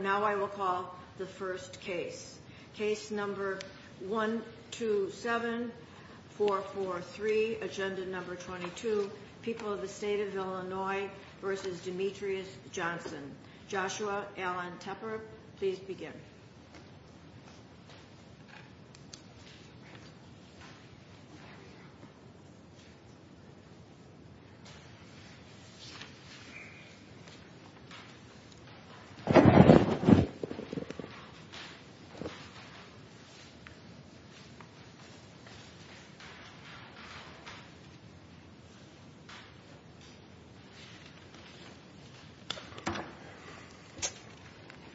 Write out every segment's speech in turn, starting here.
Now I will call the first case. Case number 127443, agenda number 22, People of the State of Illinois v. Demetrius Johnson. Joshua Alan Tepper, please begin.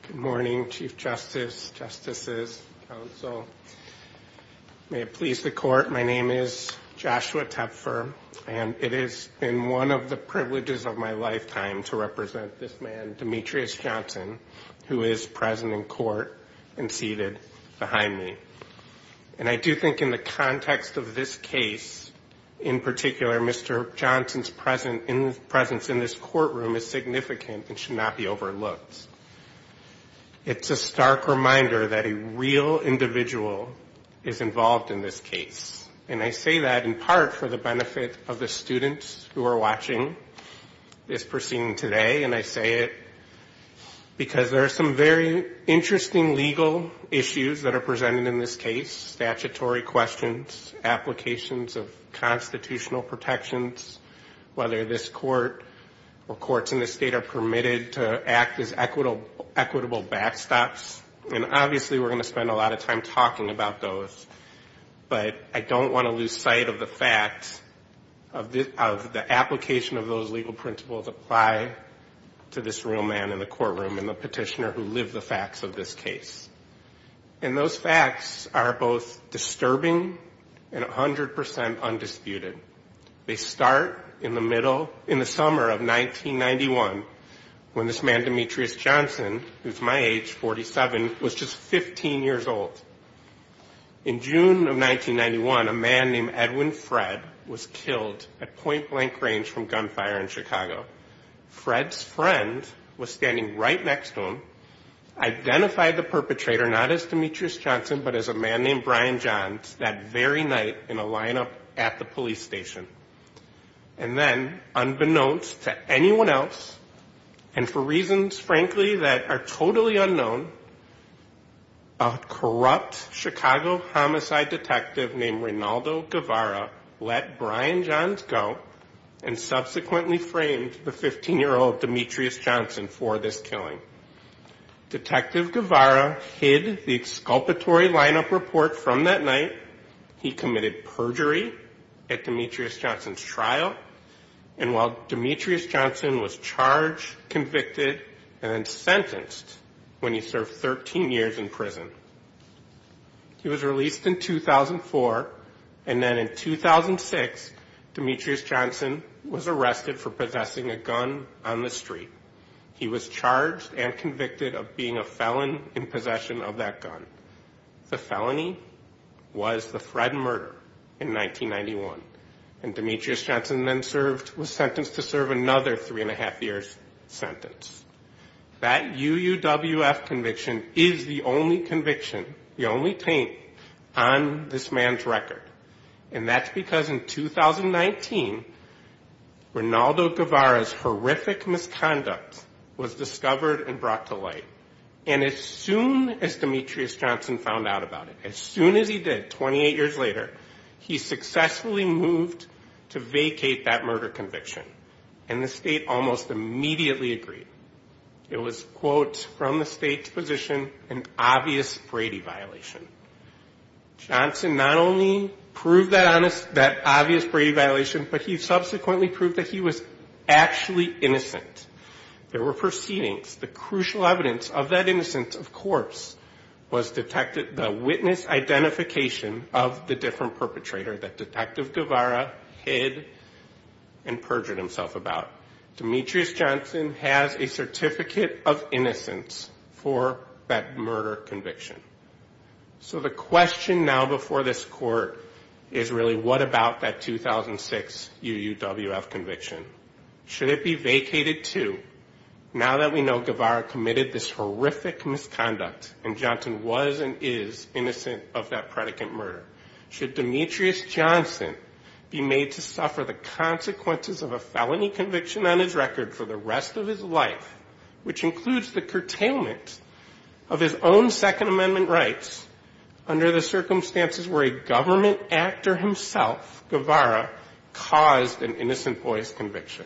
Good morning, Chief Justice, Justices, Counsel. May it please the Court, my name is Joshua Tepper, and it has been one of the privileges of my lifetime to represent this man, Demetrius Johnson. Who is present in court and seated behind me. And I do think in the context of this case, in particular, Mr. Johnson's presence in this courtroom is significant and should not be overlooked. It's a stark reminder that a real individual is involved in this case. And I say that in part for the benefit of the students who are watching this proceeding today, and I say it because there are some very interesting legal issues that are presented in this case. Statutory questions, applications of constitutional protections, whether this court or courts in this state are permitted to act as equitable backstops. And obviously we're going to spend a lot of time talking about those. But I don't want to lose sight of the facts of the application of those legal principles apply to this real man in the courtroom and the petitioner who lived the facts of this case. And those facts are both disturbing and 100% undisputed. They start in the middle, in the summer of 1991, when this man Demetrius Johnson, who's my age, 47, was just 15 years old. In June of 1991, a man named Edwin Fred was killed at point blank range from gunfire in Chicago. Fred's friend was standing right next to him, identified the perpetrator not as Demetrius Johnson but as a man named Brian Johns that very night in a lineup at the police station. And then, unbeknownst to anyone else, and for reasons frankly that are totally unknown, a corrupt Chicago homicide detective named Rinaldo Guevara let Brian Johns go and subsequently framed Demetrius Johnson. The 15-year-old Demetrius Johnson for this killing. Detective Guevara hid the exculpatory lineup report from that night. He committed perjury at Demetrius Johnson's trial. And while Demetrius Johnson was charged, convicted, and then sentenced when he served 13 years in prison. He was released in 2004. And then in 2006, Demetrius Johnson was arrested for possessing a gun on the street. He was charged and convicted of being a felon in possession of that gun. The felony was the Fred murder in 1991. And Demetrius Johnson then served, was sentenced to serve another three and a half years sentence. That UUWF conviction is the only conviction, the only taint on this man's record. And that's because in 2019, Rinaldo Guevara's horrific misconduct was discovered and brought to light. And as soon as Demetrius Johnson found out about it, as soon as he did, 28 years later, he successfully moved to vacate that murder conviction. And the state almost immediately agreed. It was, quote, from the state's position, an obvious Brady violation. Johnson not only proved that obvious Brady violation, but he subsequently proved that he was actually innocent. There were proceedings. The crucial evidence of that innocence, of course, was detected, the witness identification of the different perpetrator that Detective Guevara hid and perjured himself about. Demetrius Johnson has a certificate of innocence for that murder conviction. So the question now before this court is really what about that 2006 UUWF conviction? Should it be vacated too? Now that we know Guevara committed this horrific misconduct and Johnson was and is innocent of that predicate murder, should Demetrius Johnson be made to suffer the consequences of a felony conviction? Demetrius Johnson has a conviction on his record for the rest of his life, which includes the curtailment of his own Second Amendment rights under the circumstances where a government actor himself, Guevara, caused an innocent boy's conviction.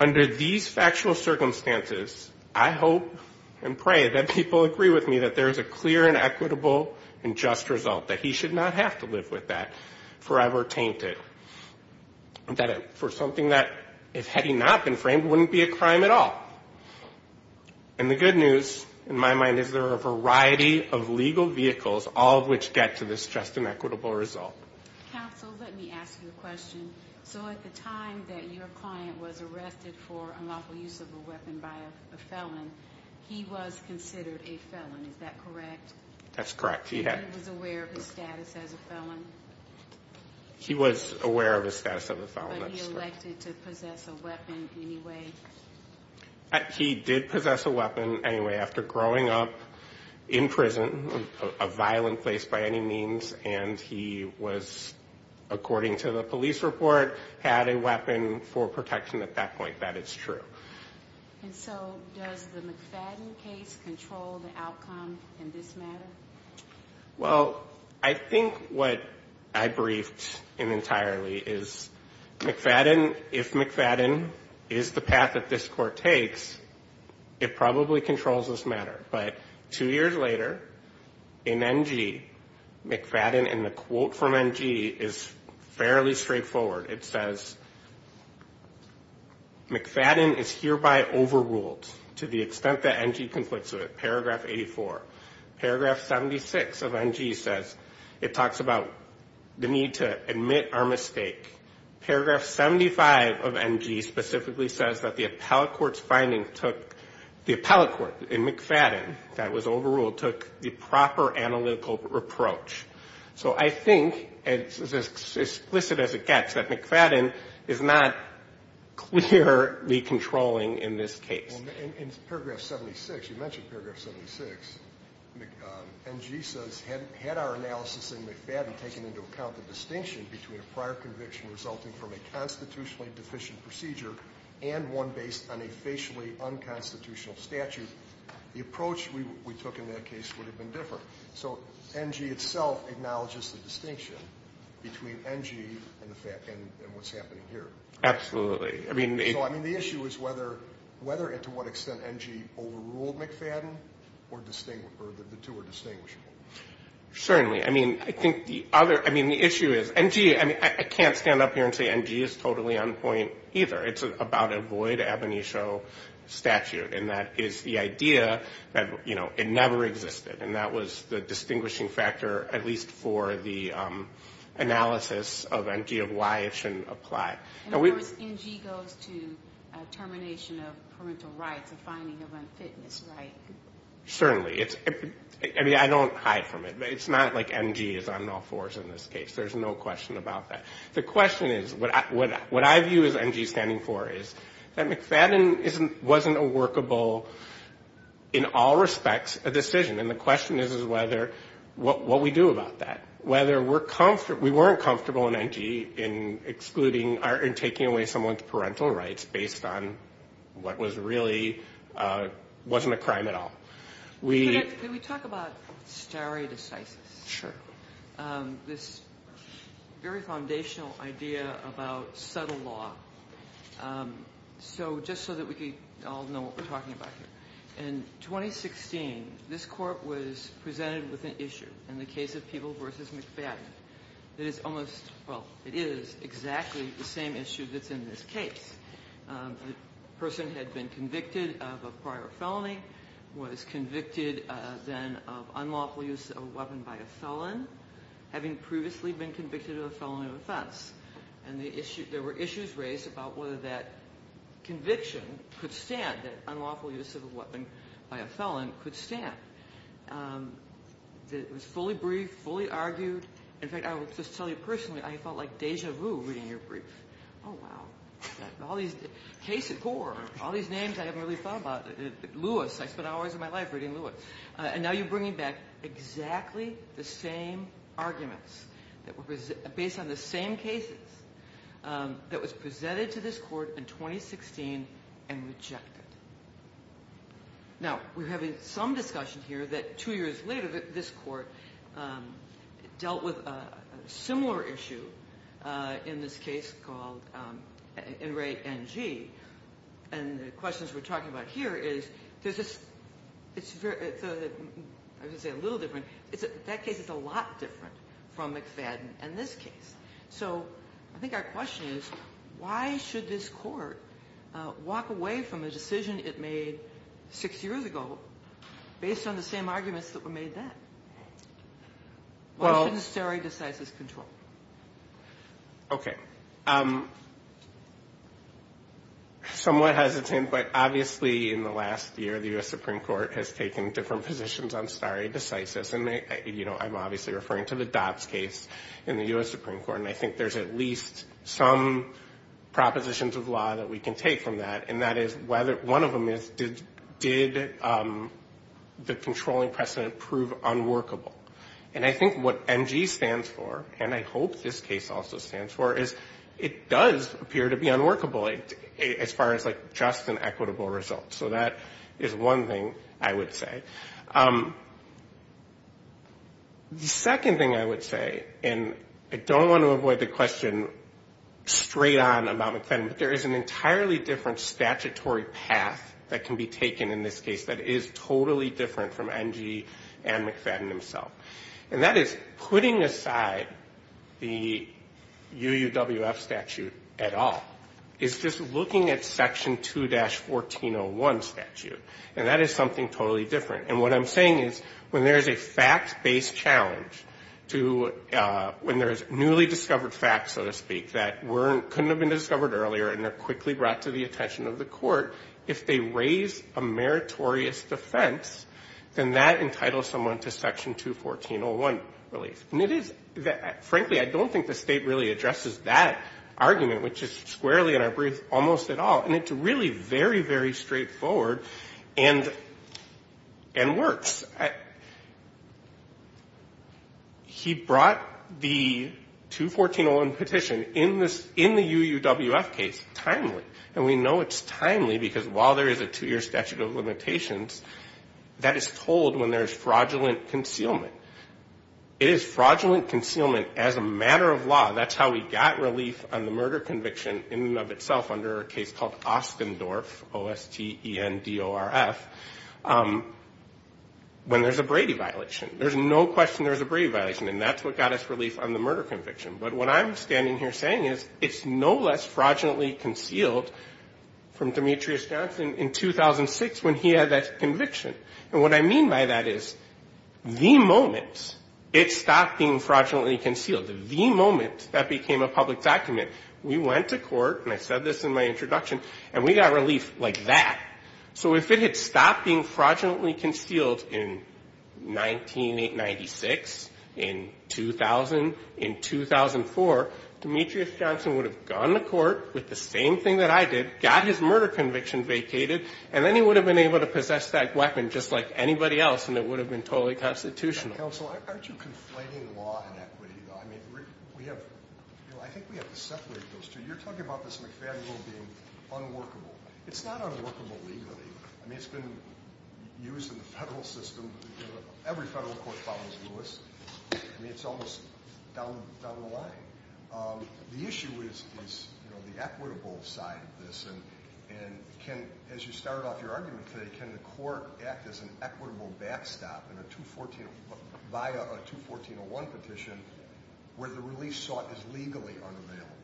Under these factual circumstances, I hope and pray that people agree with me that there is a clear and equitable and just result, that he should not have to live with that forever tainted, that for something that, had he not been framed, wouldn't be a crime at all. And the good news in my mind is there are a variety of legal vehicles, all of which get to this just and equitable result. Counsel, let me ask you a question. So at the time that your client was arrested for unlawful use of a weapon by a felon, he was considered a felon, is that correct? That's correct. He was aware of his status as a felon? He was aware of his status as a felon, that's correct. But he elected to possess a weapon anyway? He did possess a weapon anyway, after growing up in prison, a violent place by any means, and he was, according to the police report, had a weapon for protection at that point, that is true. And so does the McFadden case control the outcome in this matter? Well, I think what I briefed in entirely is McFadden, if McFadden is the path that this court takes, it probably controls this matter. But two years later, in N.G., McFadden, and the quote from N.G. is fairly straightforward. It says, McFadden is hereby overruled to the extent that N.G. conflicts with it, paragraph 84. Paragraph 76 of N.G. says, it talks about the need to admit our mistake. Paragraph 75 of N.G. specifically says that the appellate court's finding took, the appellate court in McFadden, that was overruled, took the proper analytical approach. So I think, as explicit as it gets, that McFadden is not clearly controlling in this case. In paragraph 76, you mentioned paragraph 76. N.G. says, had our analysis in McFadden taken into account the distinction between a prior conviction resulting from a constitutionally deficient procedure and one based on a facially unconstitutional statute, the approach we took in that case would have been different. So N.G. itself acknowledges the distinction between N.G. and what's happening here. Absolutely. So, I mean, the issue is whether and to what extent N.G. overruled McFadden or the two are distinguishable. Certainly. I mean, I think the other, I mean, the issue is N.G., I mean, I can't stand up here and say N.G. is totally on point either. It's about a void ab initio statute, and that is the idea that, you know, it never existed. And that was the distinguishing factor, at least for the analysis of N.G. of why it shouldn't apply. And, of course, N.G. goes to termination of parental rights, a finding of unfitness, right? Certainly. I mean, I don't hide from it. It's not like N.G. is on all fours in this case. There's no question about that. The question is, what I view as N.G. standing for is that McFadden wasn't a workable, in all respects, a decision. And the question is whether, what we do about that. Whether we're comfortable, we weren't comfortable in N.G. in excluding, in taking away someone's parental rights based on what was really, wasn't a crime at all. Can we talk about stare decisis? Sure. This very foundational idea about subtle law. So, just so that we can all know what we're talking about here. In 2016, this court was presented with an issue in the case of Peeble v. McFadden. It is almost, well, it is exactly the same issue that's in this case. The person had been convicted of a prior felony, was convicted then of unlawful use of a weapon by a felon, having previously been convicted of a felony of offense. And there were issues raised about whether that conviction could stand, that unlawful use of a weapon by a felon could stand. It was fully briefed, fully argued. In fact, I will just tell you personally, I felt like deja vu reading your brief. Oh, wow. All these cases, all these names I haven't really thought about. Lewis, I spent hours of my life reading Lewis. And now you're bringing back exactly the same arguments that were based on the same cases that was presented to this court in 2016 and rejected. Now, we're having some discussion here that two years later this court dealt with a similar issue in this case called In Re NG. And the questions we're talking about here is, I was going to say a little different. That case is a lot different from McFadden and this case. So I think our question is why should this court walk away from a decision it made six years ago based on the same arguments that were made then? Why should the stare decisis control? Okay. Somewhat hesitant, but obviously in the last year the U.S. Supreme Court has taken different positions on stare decisis. And, you know, I'm obviously referring to the Dobbs case in the U.S. Supreme Court. And I think there's at least some propositions of law that we can take from that. And that is one of them is did the controlling precedent prove unworkable? And I think what NG stands for, and I hope this case also stands for, is it does appear to be unworkable as far as like just an equitable result. So that is one thing I would say. The second thing I would say, and I don't want to avoid the question straight on about McFadden, but there is an entirely different statutory path that can be taken in this case that is totally different from NG and McFadden himself. And that is putting aside the UUWF statute at all is just looking at Section 2-1401 statute. And that is something totally different. And what I'm saying is when there's a fact-based challenge to, when there's newly discovered facts, so to speak, that couldn't have been discovered earlier and are quickly brought to the attention of the court, if they raise a meritorious defense, then that entitles someone to Section 2-1401 release. And it is, frankly, I don't think the state really addresses that argument, which is squarely in our brief, almost at all. And it's really very, very straightforward and works. He brought the 2-1401 petition in the UUWF case timely. And we know it's timely because while there is a two-year statute of limitations, that is told when there is fraudulent concealment. It is fraudulent concealment as a matter of law. And it is fraudulent concealment as a matter of law when there is a Brady violation. There's no question there's a Brady violation. And that's what got us relief on the murder conviction. But what I'm standing here saying is it's no less fraudulently concealed from Demetrius Johnson in 2006 when he had that conviction. And what I mean by that is the moment it stopped being fraudulently concealed, the moment that became a public document, we went to court. And I said this in my introduction. And we got relief like that. So if it had stopped being fraudulently concealed in 1996, in 2000, in 2004, Demetrius Johnson would have gone to court with the same thing that I did, got his murder conviction vacated, and then he would have been able to possess that weapon just like anybody else, and it would have been totally constitutional. Counsel, aren't you conflating law and equity? I think we have to separate those two. You're talking about this McFadden rule being unworkable. It's not unworkable legally. I mean, it's been used in the federal system. Every federal court follows Lewis. I mean, it's almost down the line. The issue is the equitable side of this. And as you started off your argument today, can the court act as an equitable backstop in a 214, via a 214-01 petition where the relief sought is legally unavailable?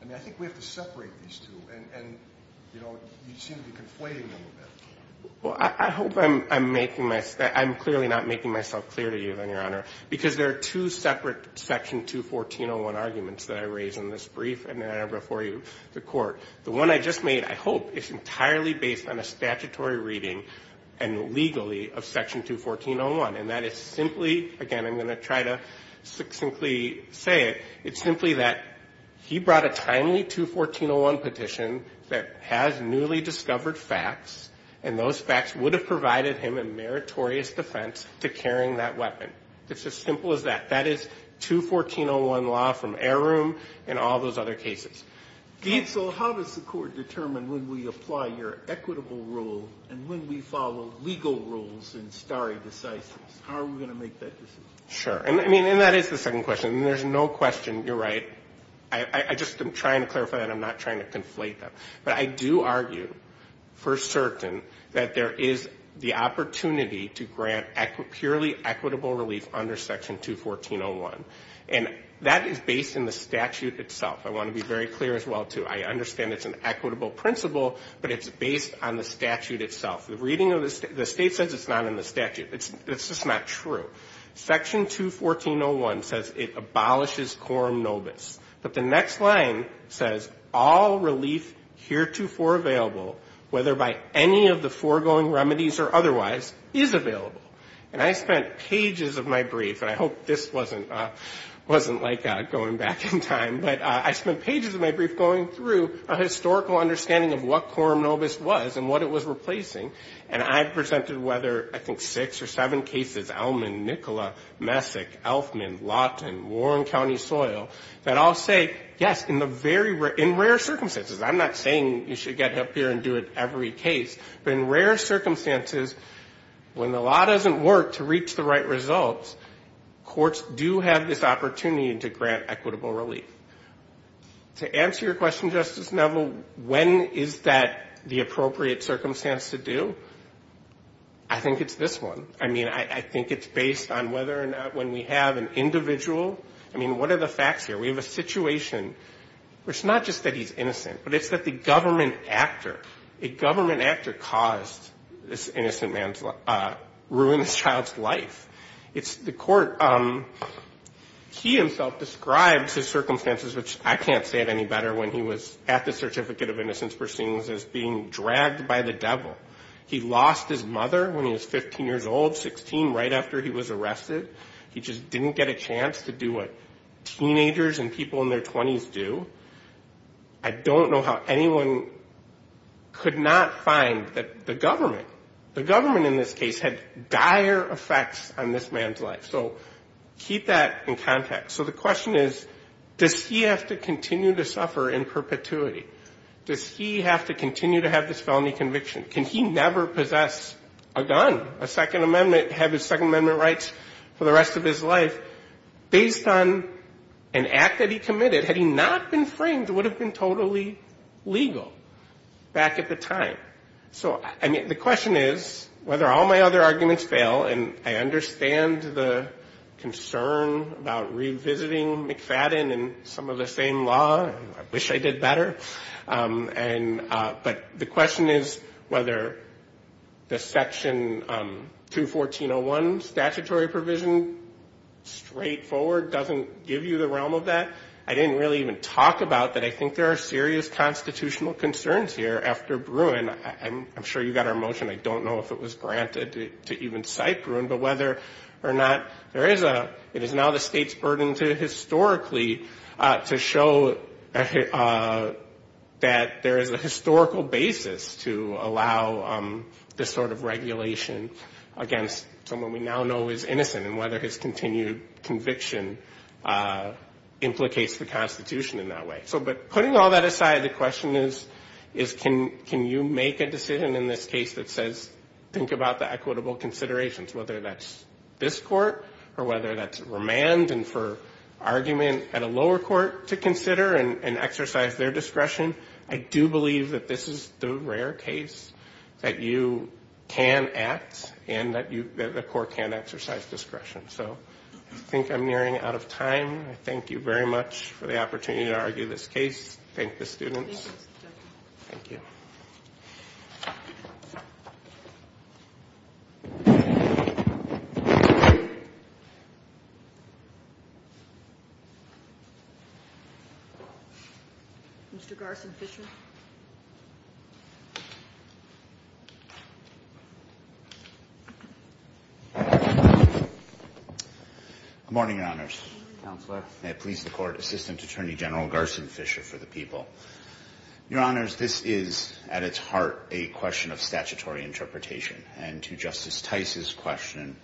I mean, I think we have to separate these two. And, you know, you seem to be conflating them a bit. Well, I hope I'm making my, I'm clearly not making myself clear to you, Your Honor, because there are two separate section 214-01 arguments that I raise in this brief and that are before you, the court. The one I just made, I hope, is entirely based on a statutory reading and legally of section 214-01. And that is simply, again, I'm going to try to succinctly say it. It's simply that he brought a timely 214-01 petition that has newly discovered facts, and those facts would have provided him a meritorious defense to carrying that weapon. It's as simple as that. That is 214-01 law from Air Room and all those other cases. So how does the court determine when we apply your equitable rule and when we follow legal rules in stare decisis? How are we going to make that decision? Sure. I mean, and that is the second question. And there's no question, you're right, I just am trying to clarify that. I'm not trying to conflate them. But I do argue for certain that there is the opportunity to grant purely equitable relief under section 214-01. And that is based in the statute itself. I want to be very clear as well, too. I understand it's an equitable principle, but it's based on the statute itself. The reading of the state says it's not in the statute. It's just not true. Section 214-01 says it abolishes quorum nobis. But the next line says all relief heretofore available, whether by any of the foregoing remedies or otherwise, is available. And I spent pages of my brief, and I hope this wasn't like going back in time, but I spent pages of my brief going through a historical understanding of what quorum nobis was and what it was replacing. And I presented whether, I think, six or seven cases, Elman, Nicola, Messick, Elfman, Lawton, Warren County Soil, that all say, yes, in the very rare, in rare circumstances. I'm not saying you should get up here and do it every case. But in rare circumstances, when the law doesn't work to reach the right results, courts do have this opportunity to grant equitable relief. To answer your question, Justice Neville, when is that the appropriate circumstance to do? I think it's this one. I mean, I think it's based on whether or not when we have an individual. I mean, what are the facts here? We have a situation where it's not just that he's innocent, but it's that the government actor, a criminal, has actually caused this innocent man's, ruined this child's life. It's the court. He himself describes his circumstances, which I can't say it any better, when he was at the Certificate of Innocence proceedings, as being dragged by the devil. He lost his mother when he was 15 years old, 16, right after he was arrested. He just didn't get a chance to do what teenagers and people in their 20s do. I don't know how anyone could not find that the government, the government in this case, had dire effects on this man's life. So keep that in context. So the question is, does he have to continue to suffer in perpetuity? Does he have to continue to have this felony conviction? Can he never possess a gun, a Second Amendment, have his Second Amendment rights for the rest of his life? Based on an act that he committed, had he not been convicted, would he have been framed? It would have been totally legal back at the time. So, I mean, the question is whether all my other arguments fail, and I understand the concern about revisiting McFadden and some of the same law. I wish I did better. But the question is whether the Section 214.01 statutory provision, straightforward, doesn't give you the realm of that. I didn't really even talk about that. I think there are serious constitutional concerns here after Bruin. I'm sure you got our motion. I don't know if it was granted to even cite Bruin, but whether or not there is a, it is now the state's burden to historically, to show that there is a historical basis to allow this sort of regulation against someone we now know is innocent, and whether his continued conviction implicates that. It implicates the Constitution in that way. So, but putting all that aside, the question is, can you make a decision in this case that says, think about the equitable considerations, whether that's this court, or whether that's remand, and for argument at a lower court to consider and exercise their discretion. I do believe that this is the rare case that you can act and that the court can exercise discretion. So, I think I'm nearing out of time. Good morning, Your Honors. May it please the Court, Assistant Attorney General Garson Fisher for the People. Your Honors, this is, at its heart, a question of statutory interpretation, and to Justice Tice's question,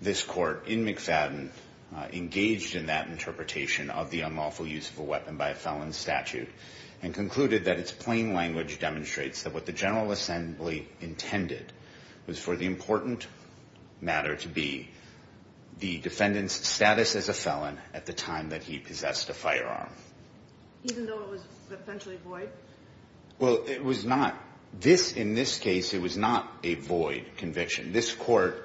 this court in McFadden engaged in that interpretation of the unlawful use of a weapon by a felon's statute, and concluded that its plain language demonstrates that what the General Assembly intended was for the important matter to be, and that the defendant's status as a felon at the time that he possessed a firearm. Even though it was essentially void? Well, it was not. In this case, it was not a void conviction. This court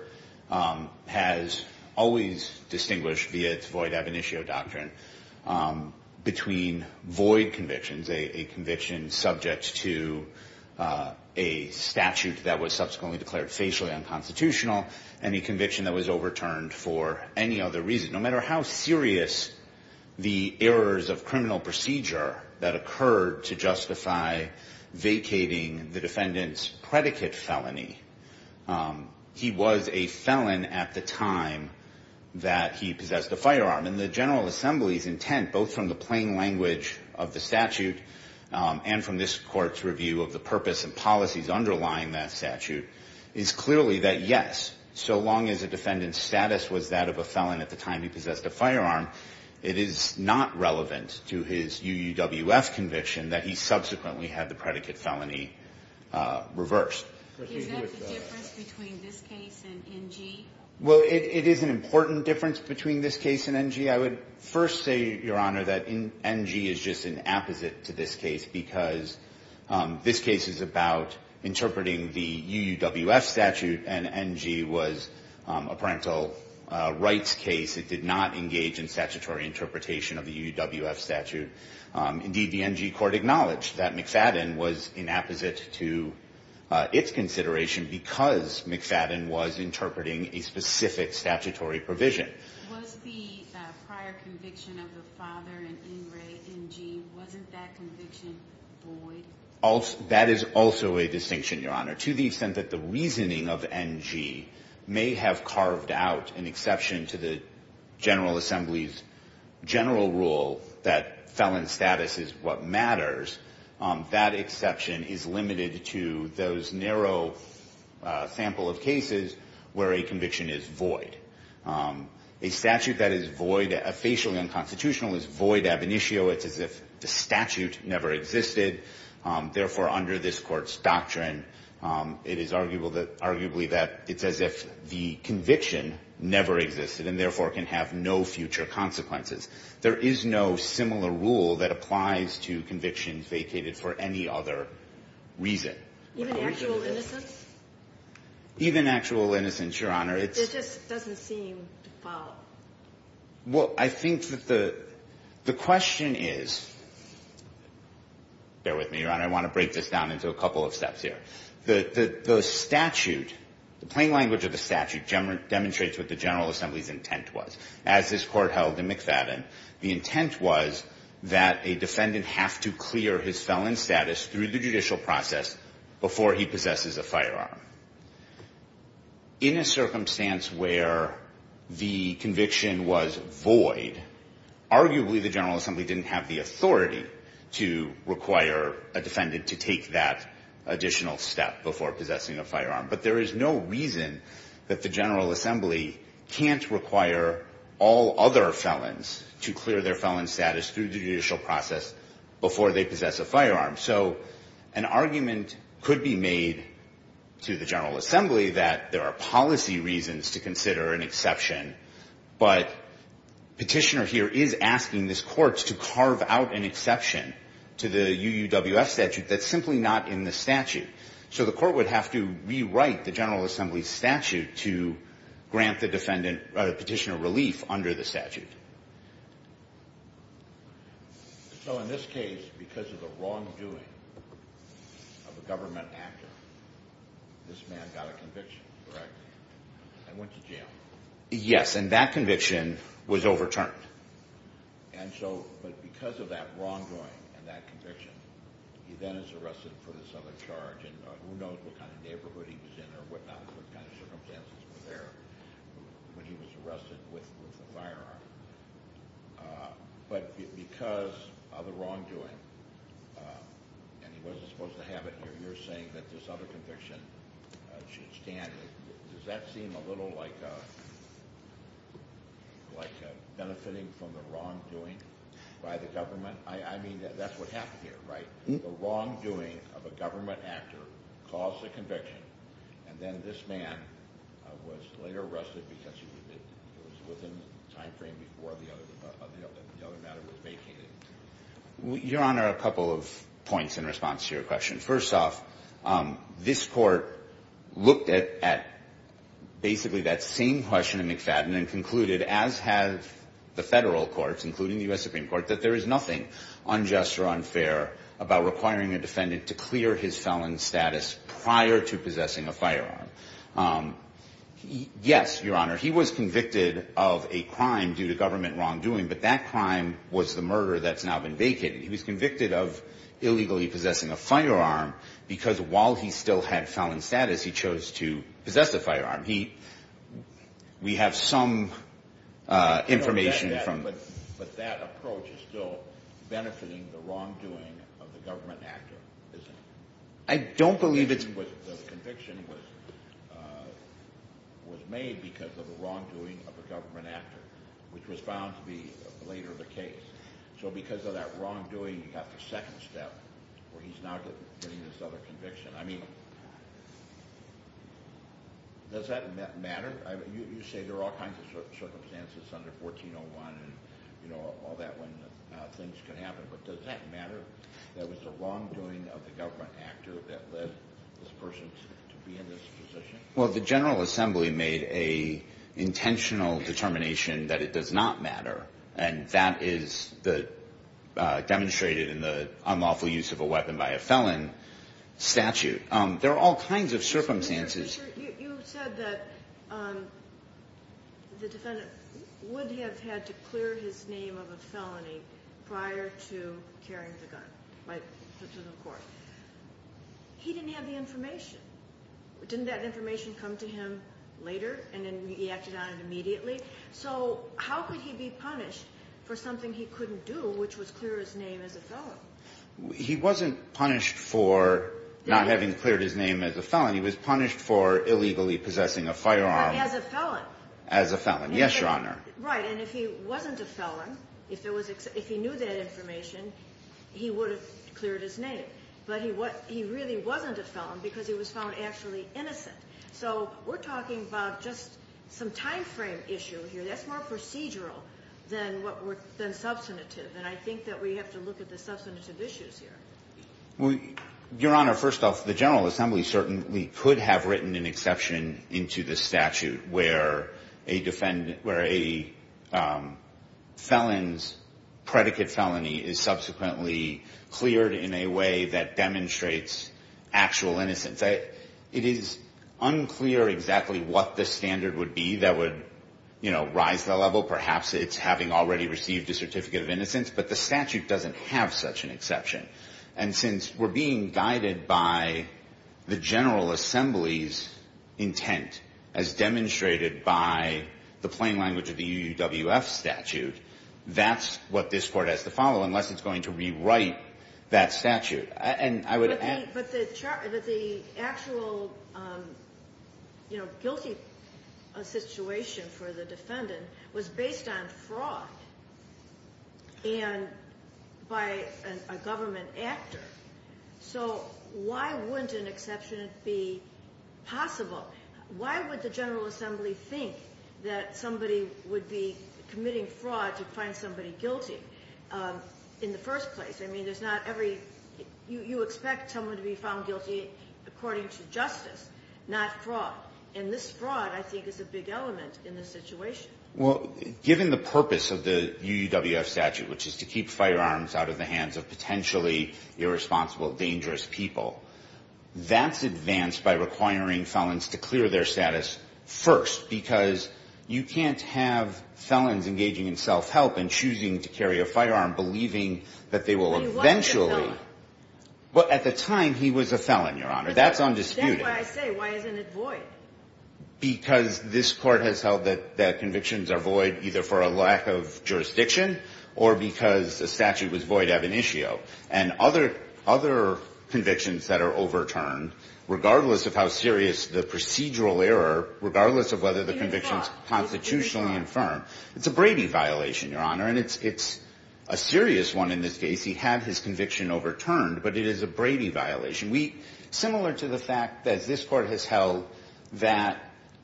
has always distinguished, via its void ab initio doctrine, between void convictions, a conviction subject to a statute that was subsequently declared facially unconstitutional, and a conviction that was overturned for any other reason. No matter how serious the errors of criminal procedure that occurred to justify vacating the defendant's predicate felony, he was a felon at the time that he possessed a firearm. And the General Assembly's intent, both from the plain language of the statute and from this court's review of the statute, is simply that, yes, so long as a defendant's status was that of a felon at the time he possessed a firearm, it is not relevant to his UUWF conviction that he subsequently had the predicate felony reversed. Is that the difference between this case and NG? Well, it is an important difference between this case and NG. I would first say, Your Honor, that NG is just an opposite to this case, because this case is about interpreting the UUWF statute as a violation of the UUWF. And NG was a parental rights case. It did not engage in statutory interpretation of the UUWF statute. Indeed, the NG Court acknowledged that McFadden was an opposite to its consideration, because McFadden was interpreting a specific statutory provision. Was the prior conviction of the father in NG, wasn't that conviction void? That is also a distinction, Your Honor. To the extent that the reasoning of NG may have carved out an exception to the General Assembly's general rule that felon status is what matters, that exception is limited to those narrow sample of people. A statute that is void, officially unconstitutional, is void ab initio. It's as if the statute never existed. Therefore, under this Court's doctrine, it is arguably that it's as if the conviction never existed, and therefore can have no future consequences. There is no similar rule that applies to convictions vacated for any other reason. Even actual innocence? It just doesn't seem to follow. Well, I think that the question is, bear with me, Your Honor, I want to break this down into a couple of steps here. The statute, the plain language of the statute, demonstrates what the General Assembly's intent was. As this Court held in McFadden, the intent was that a defendant have to clear his felon status through the judicial process before he possesses a firearm. In a circumstance where the conviction was void, arguably the General Assembly didn't have the authority to require a defendant to take that additional step before possessing a firearm. But there is no reason that the General Assembly can't require all other felons to clear their felon status through the judicial process before they possess a firearm. So an argument could be made to the General Assembly that there are policy reasons to consider an exception, but Petitioner here is asking this Court to carve out an exception to the UUWF statute that's simply not in the statute. So the Court would have to rewrite the General Assembly's statute to grant the petitioner relief under the statute. So in this case, because of the wrongdoing of a government actor, this man got a conviction, correct? And went to jail. Yes, and that conviction was overturned. And so, but because of that wrongdoing and that conviction, he then is arrested for this other charge, and who knows what kind of neighborhood he was in or what kind of circumstances were there when he was arrested with a firearm. But because of the wrongdoing, and he wasn't supposed to have it here, you're saying that this other conviction should stand. Does that seem a little like benefiting from the wrongdoing by the government? I mean, that's what happened here, right? The wrongdoing of a government actor caused the conviction, and then this man was later arrested because he was within the time frame before the conviction. And so that's what happened here, right? I mean, that's what happened here, right? Your Honor, a couple of points in response to your question. First off, this Court looked at basically that same question in McFadden and concluded, as have the federal courts, including the U.S. Supreme Court, that there is nothing unjust or unfair about requiring a defendant to clear his felon status prior to possessing a firearm. Yes, Your Honor, he was convicted of a crime due to government wrongdoing, but that crime was the murder that's now been vacated. He was convicted of illegally possessing a firearm because while he still had felon status, he chose to possess the firearm. We have some information from... But that approach is still benefiting the wrongdoing of the government actor, isn't it? I don't believe it's... Well, the General Assembly made an intentional determination that it does not matter, and that is demonstrated in the unlawful use of a weapon by a felon statute. There are all kinds of circumstances... Your Honor, you said that the defendant would have had to clear his name of a felony prior to carrying the gun to the court. He didn't have the information. Didn't that information come to him later and then he acted on it immediately? So how could he be punished for something he couldn't do, which was clear his name as a felon? He wasn't punished for not having cleared his name as a felon. He was punished for illegally possessing a firearm... As a felon. As a felon, yes, Your Honor. Right, and if he wasn't a felon, if he knew that information, he would have cleared his name. But he really wasn't a felon because he was found actually innocent. So we're talking about just some time frame issue here. That's more procedural than substantive, and I think that we have to look at the substantive issues here. Your Honor, first off, the General Assembly certainly could have written an exception into the statute where a defendant, where a felon could have written an exception. But the statute doesn't have such an exception. And since we're being guided by the General Assembly's intent, as demonstrated by the plain language of the U.S. Supreme Court, the statute doesn't have such an exception. But the actual, you know, guilty situation for the defendant was based on fraud and by a government actor. So why wouldn't an exception be possible? Why would the General Assembly think that somebody would be able to do that? Why wouldn't somebody be committing fraud to find somebody guilty in the first place? I mean, there's not every, you expect someone to be found guilty according to justice, not fraud. And this fraud, I think, is a big element in this situation. Well, given the purpose of the UUWF statute, which is to keep firearms out of the hands of potentially irresponsible, dangerous people, that's advanced by requiring felons to clear their status first. Because you can't have felons engaging in self-help and choosing to carry a firearm, believing that they will eventually. He wasn't a felon. Well, at the time, he was a felon, Your Honor. That's undisputed. That's why I say, why isn't it void? Because this Court has held that convictions are void either for a lack of jurisdiction or because the statute was void ab initio. And other convictions that are overturned, regardless of how serious the procedural error, regardless of whether the conviction is constitutionally infirm, it's a Brady violation, Your Honor. And it's a serious one in this case. He had his conviction overturned, but it is a Brady violation. Similar to the fact that this Court has held that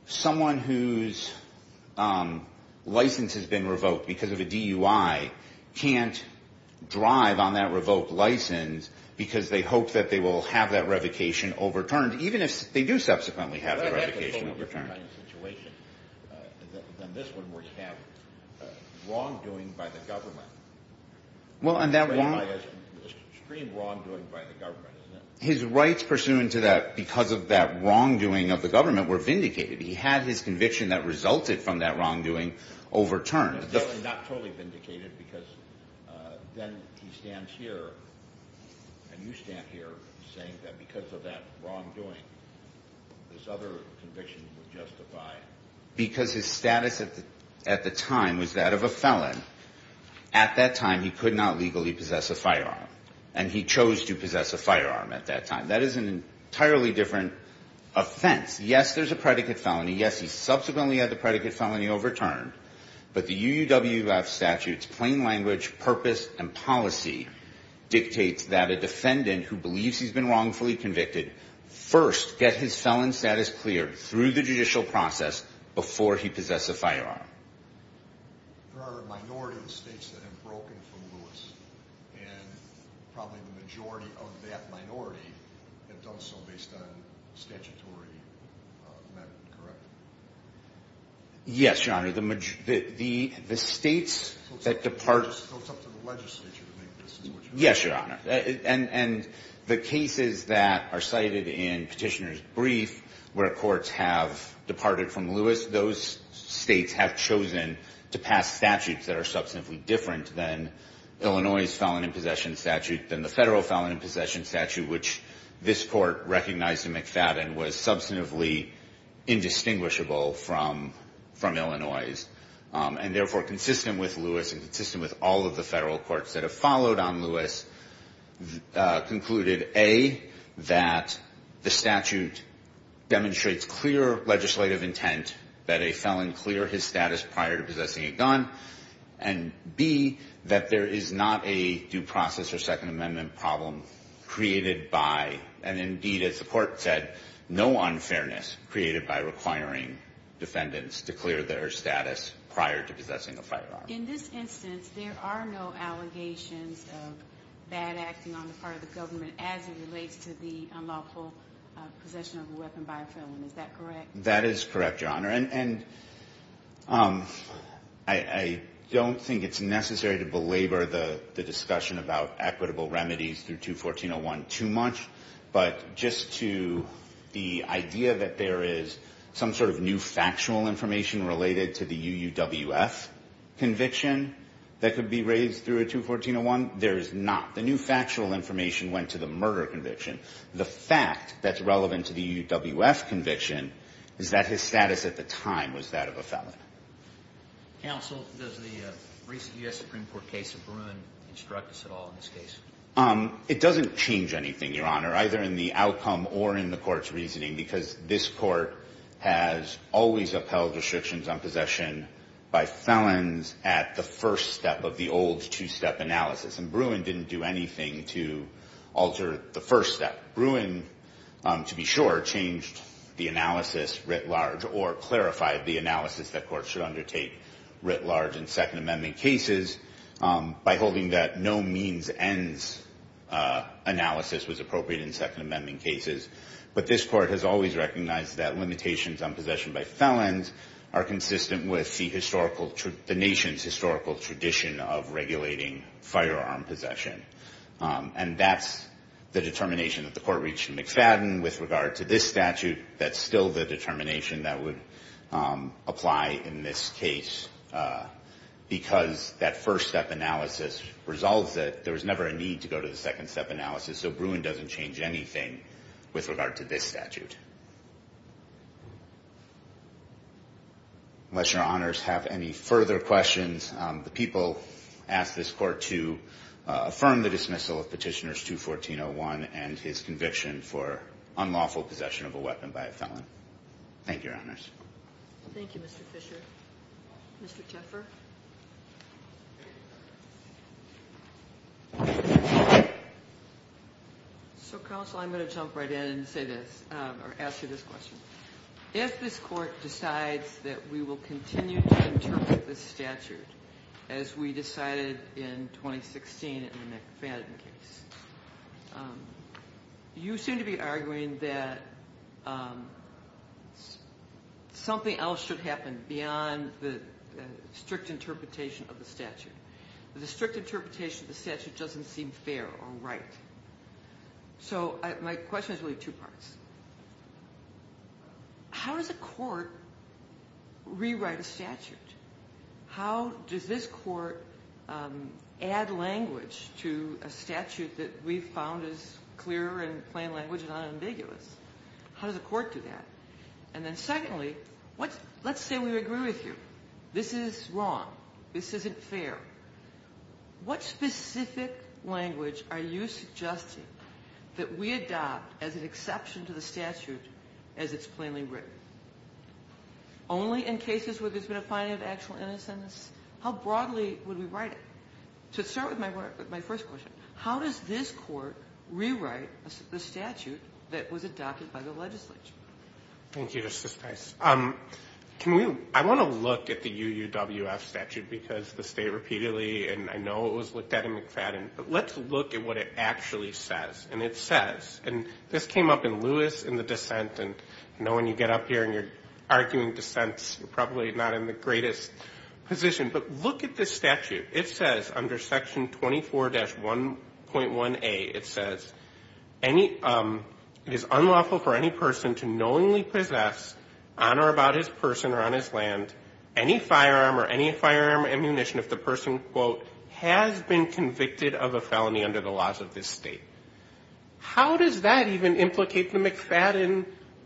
someone whose license has been revoked because of a DUI can't drive on that revoked license because they hope that they will have that revocation overturned, even if they do subsequently have that revocation overturned. Well, that's a totally different kind of situation than this one, where you have wrongdoing by the government. His rights pursuant to that, because of that wrongdoing of the government, were vindicated. He had his conviction that resulted from that wrongdoing overturned. Not totally vindicated, because then he stands here, and you stand here, saying that because of that wrongdoing, this other conviction would justify it. Because his status at the time was that of a felon. At that time, he was a felon. At that time, he could not legally possess a firearm. And he chose to possess a firearm at that time. That is an entirely different offense. Yes, there's a predicate felony. Yes, he subsequently had the predicate felony overturned. But the UUWF statute's plain language, purpose, and policy dictates that a defendant who believes he's been wrongfully convicted first get his felon status cleared through the judicial process before he possess a firearm. There are a minority of states that have broken from Lewis, and probably the majority of that minority have done so based on statutory method, correct? Yes, Your Honor. The states that depart... So it's up to the legislature to make this switch? Yes, Your Honor. And the cases that are cited in Petitioner's brief, where courts have departed from Lewis, those states have changed the statute. They have chosen to pass statutes that are substantively different than Illinois' felon in possession statute, than the federal felon in possession statute, which this court recognized in McFadden was substantively indistinguishable from Illinois'. And therefore, consistent with Lewis, and consistent with all of the federal courts that have followed on Lewis, concluded, A, that the statute demonstrates clear legislative intent that a felon clear his status before he possesses a firearm. And B, that there is not a due process or Second Amendment problem created by, and indeed as the court said, no unfairness created by requiring defendants to clear their status prior to possessing a firearm. In this instance, there are no allegations of bad acting on the part of the government as it relates to the unlawful possession of a weapon by a felon, is that correct? That is correct, Your Honor. And I don't think it's necessary to belabor the discussion about equitable remedies through 214-01 too much, but just to the idea that there is some sort of new factual information related to the UUWF conviction that could be raised through a 214-01, there is not. The new factual information went to the murder conviction. The fact that's relevant to the UUWF conviction is that his status at the time was that of a felon. Counsel, does the recent U.S. Supreme Court case of Bruin instruct us at all in this case? It doesn't change anything, Your Honor, either in the outcome or in the court's reasoning, because this court has always upheld restrictions on possession by felons at the first step of the old two-step analysis. And Bruin didn't do anything to alter the first step. Bruin, to be sure, changed the analysis writ large or clarified the analysis that courts should undertake writ large in Second Amendment cases by holding that no-means-ends analysis was appropriate in Second Amendment cases. But this court has always recognized that limitations on possession by felons are consistent with the nation's historical tradition of regulating firearms. And that's the determination that the court reached in McFadden with regard to this statute. That's still the determination that would apply in this case, because that first-step analysis resolves it. There was never a need to go to the second-step analysis, so Bruin doesn't change anything with regard to this statute. Unless Your Honors have any further questions, the people asked this court to, as I said, to be brief. And then we will affirm the dismissal of Petitioner 214-01 and his conviction for unlawful possession of a weapon by a felon. Thank you, Your Honors. Thank you, Mr. Fischer. Mr. Teffer? So, Counsel, I'm going to jump right in and say this, or answer this question. As this court decides that we will continue to interpret this statute as we decided in 2016 in the McFadden case, you seem to be arguing that something else should happen beyond the strict interpretation of the statute. The strict interpretation of the statute doesn't seem fair or right. So my question is really two parts. How does a court rewrite a statute? How does this court add language to a statute that we've found is clear and plain language and unambiguous? How does a court do that? And then secondly, let's say we agree with you. This is wrong. This isn't fair. What specific language are you suggesting that we adopt as an exception to the statute as its purpose? Only in cases where there's been a finding of actual innocence? How broadly would we write it? To start with my first question, how does this court rewrite the statute that was adopted by the legislature? Thank you, Justice Price. I want to look at the UUWF statute because the state repeatedly, and I know it was looked at in McFadden, but let's look at what it actually says. And it says, and this came up in Lewis in the dissent, and no one's ever looked at it. You know, when you get up here and you're arguing dissents, you're probably not in the greatest position. But look at this statute. It says under Section 24-1.1a, it says, it is unlawful for any person to knowingly possess, on or about his person or on his land, any firearm or any firearm or ammunition if the person, quote, has been convicted of a felony under the laws of this state. How does that even implicate the McFadden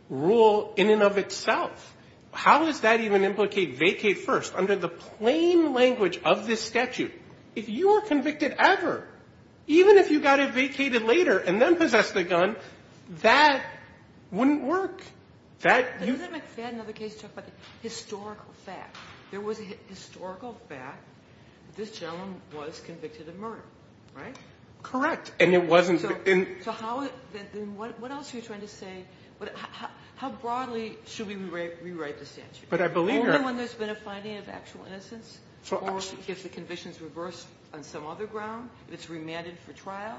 rule in the statute? The McFadden rule in and of itself, how does that even implicate vacate first under the plain language of this statute? If you were convicted ever, even if you got it vacated later and then possessed a gun, that wouldn't work. That you... But isn't McFadden another case to talk about the historical fact? There was a historical fact that this gentleman was convicted of murder, right? Correct. And it wasn't... So how, then what else are you trying to say? How broadly should we rewrite the statute? But I believe you're... Only when there's been a finding of actual innocence or if the condition's reversed on some other ground, if it's remanded for trial.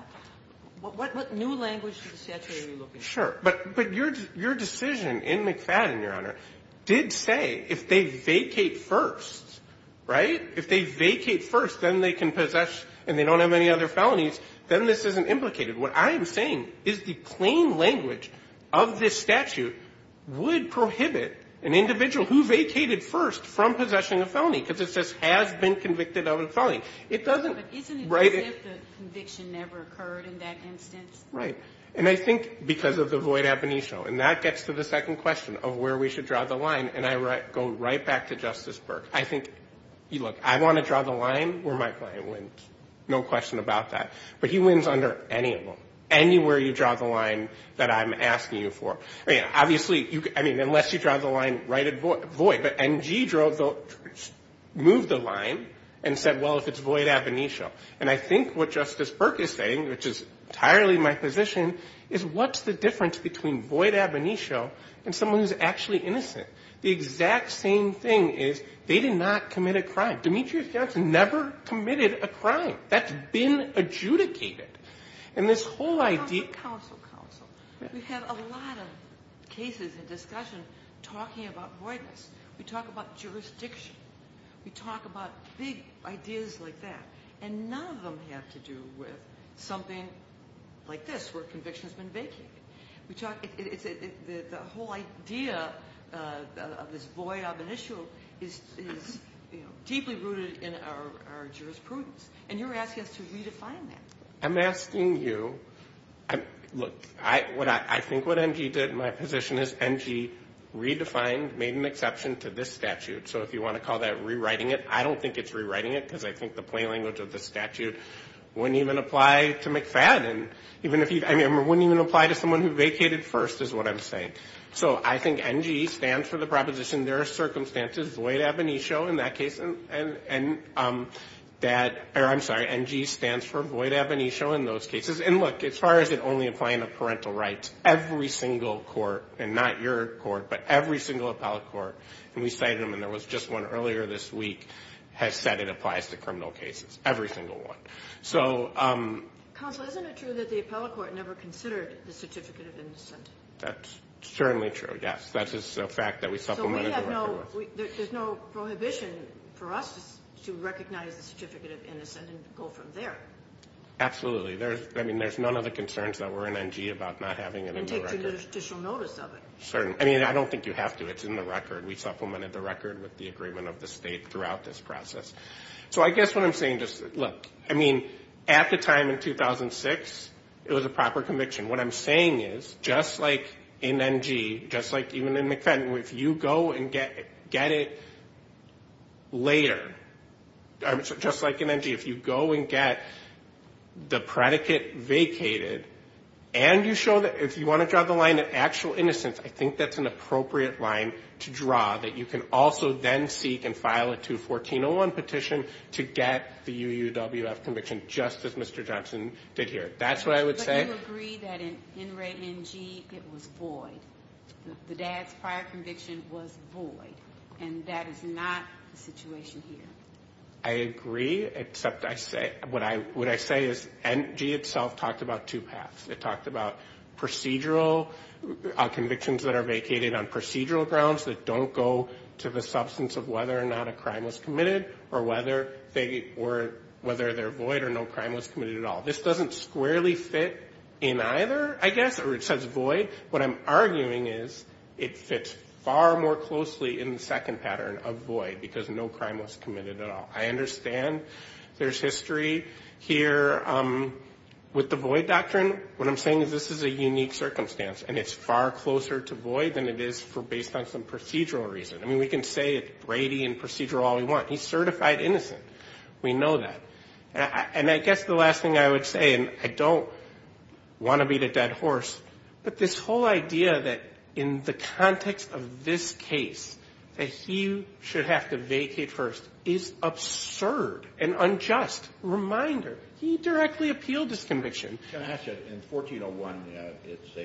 What new language to the statute are you looking at? Sure. But your decision in McFadden, Your Honor, did say if they vacate first, right? If they vacate first, then they can possess and they don't have any other felonies, then this isn't implicated. What I am saying is the plain language of this statute would prohibit an individual who vacated first from possessing a felony because this just has been convicted of a felony. It doesn't... But isn't it as if the conviction never occurred in that instance? Right. And I think because of the void ab initio. And that gets to the second question of where we should draw the line. And I go right back to Justice Burke. I think, look, I want to draw the line where my client wins. No question about that. But he wins under any of them. Anywhere you draw the line that I'm asking you for. I mean, unless you draw the line right at void. But Ngidro moved the line and said, well, if it's void ab initio. And I think what Justice Burke is saying, which is entirely my position, is what's the difference between void ab initio and someone who's actually innocent? The exact same thing is they did not commit a crime. Demetrius Johnson never committed a crime. That's been adjudicated. Counsel, counsel, counsel. We have a lot of cases and discussion talking about voidness. We talk about jurisdiction. We talk about big ideas like that. And none of them have to do with something like this where conviction has been vacated. The whole idea of this void ab initio is deeply rooted in our jurisprudence. And you're asking us to redefine that. I'm asking you. Look, I think what NG did in my position is NG redefined, made an exception to this statute. So if you want to call that rewriting it, I don't think it's rewriting it because it wouldn't even apply to McFadden. I mean, it wouldn't even apply to someone who vacated first, is what I'm saying. So I think NG stands for the proposition there are circumstances void ab initio in that case. I'm sorry, NG stands for void ab initio in those cases. And look, as far as it only applying to parental rights, every single court, and not your court, but every single appellate court, and we cited them, and there was just one earlier this week has said it applies to criminal cases, every single one. Counsel, isn't it true that the appellate court never considered the Certificate of Innocent? That's certainly true, yes. There's no prohibition for us to recognize the Certificate of Innocent and go from there. Absolutely. I mean, there's none of the concerns that were in NG about not having it in the record. I mean, I don't think you have to. It's in the record. We supplemented the record with the agreement of the state throughout this process. So I guess what I'm saying is, look, I mean, at the time in 2006, it was a proper conviction. What I'm saying is, just like in NG, just like even in McFadden, if you go and get it later, just like in NG, if you go and get the predicate vacated and you show that if you want to draw the line of actual innocence, I think that's an appropriate line to draw that you can also then seek and file a 214-01 petition to get the UUWF conviction, just as Mr. Johnson did here. That's what I would say. But you agree that in NG, it was void. The dad's prior conviction was void. And that is not the situation here. I agree, except what I say is, NG itself talked about two paths. It talked about procedural convictions that are vacated on procedural grounds that don't go to the substance of whether or not a crime was committed or whether they're void or no crime was committed at all. This doesn't squarely fit in either, I guess, or it says void. What I'm arguing is it fits far more closely in the second pattern of void because no crime was committed at all. I understand there's history here with the void doctrine. What I'm saying is this is a unique circumstance and it's far closer to void than it is based on some procedural reason. I mean, we can say it's Brady and procedural all we want. He's certified innocent. We know that. And I guess the last thing I would say, and I don't want to beat a dead horse, but this whole idea that in the context of this case that he should have to vacate first is absurd and unjust. Reminder, he directly appealed this conviction. Can I ask you, in 1401, it's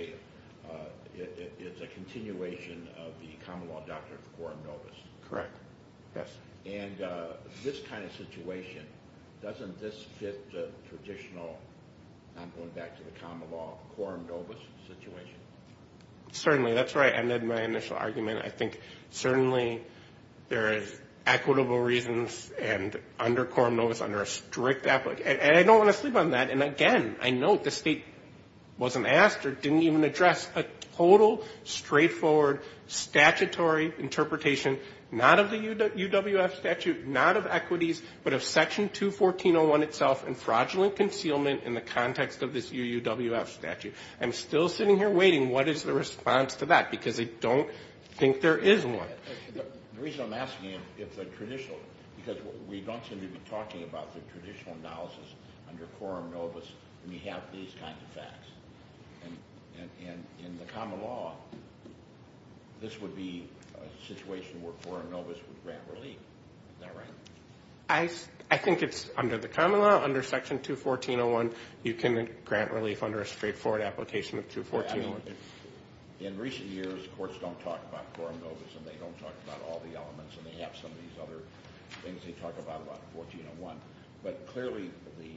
a continuation of the Commonwealth Doctrine of the Corps of Novice. Correct. Yes. And this kind of situation, doesn't this fit the traditional, I'm going back to the common law, Corps of Novice situation? Certainly. That's where I ended my initial argument. I think certainly there is equitable reasons and under Corps of Novice, under a strict application, and I don't want to sleep on that. And again, I note the state wasn't asked or didn't even address a total straightforward statutory interpretation, not of the UWF statute, not of equities, but of section 214.01 itself and fraudulent concealment in the context of this UWF statute. I'm still sitting here waiting, what is the response to that? Because I don't think there is one. The reason I'm asking you if the traditional, because we don't seem to be talking about the traditional analysis under Corps of Novice when you have these kinds of facts. And in the common law, this would be a situation where Corps of Novice would grant relief. Is that right? I think it's under the common law, under section 214.01, you can grant relief under a straightforward application of 214. In recent years, courts don't talk about Corps of Novice and they don't talk about all the elements and they have some of these other things they talk about in 14.01. But clearly the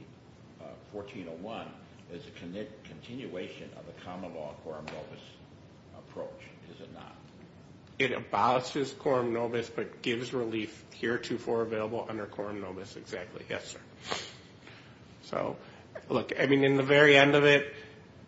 14.01 is a continuation of the common law Corps of Novice approach, is it not? It abolishes Corps of Novice, but gives relief heretofore available under Corps of Novice, exactly. Yes, sir. Look, in the very end of it,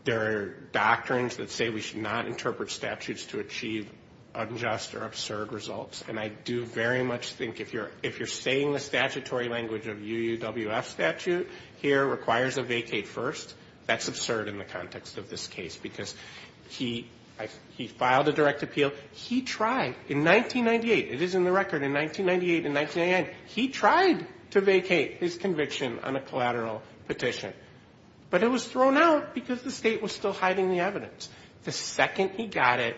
there are doctrines that say we should not interpret statutes to achieve unjust or absurd results. And I do very much think if you're saying the statutory language of UWF statute here requires a vacate first, that's absurd in the context of this case. Because he filed a direct appeal, he tried in 1998, it is in the record, in 1998 and 1999, he tried to vacate his conviction on a collateral petition. But it was thrown out because the state was still hiding the evidence. The second he got it,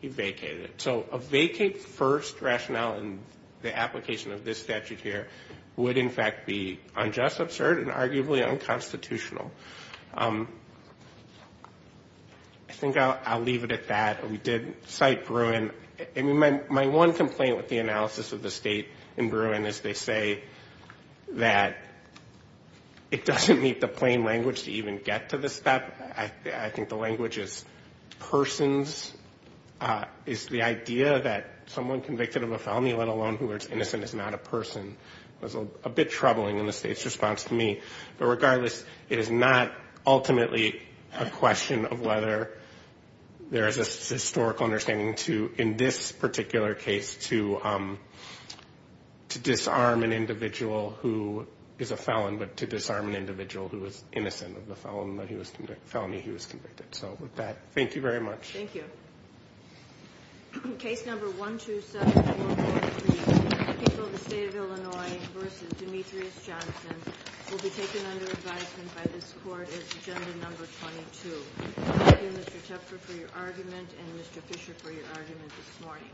he vacated it. So a vacate first rationale in the application of this statute here would in fact be unjust, absurd, and arguably unconstitutional. I think I'll leave it at that. We did cite Bruin. My one complaint with the analysis of the state in Bruin is they say that it doesn't meet the plain language to even get to this step. I think the language is persons. It's the idea that someone convicted of a felony, let alone who is innocent, is not a person. It was a bit troubling in the state's response to me. But regardless, it is not ultimately a question of whether there is a historical understanding in this particular case to disarm an individual who is a felon, but to disarm an individual who is innocent of the felony he was convicted. So with that, thank you very much. Thank you. Case number 127443, the people of the state of Illinois v. Demetrius Johnson will be taken under advisement by this court as agenda number 22. Thank you, Mr. Tepfer, for your argument and Mr. Fisher for your argument this morning.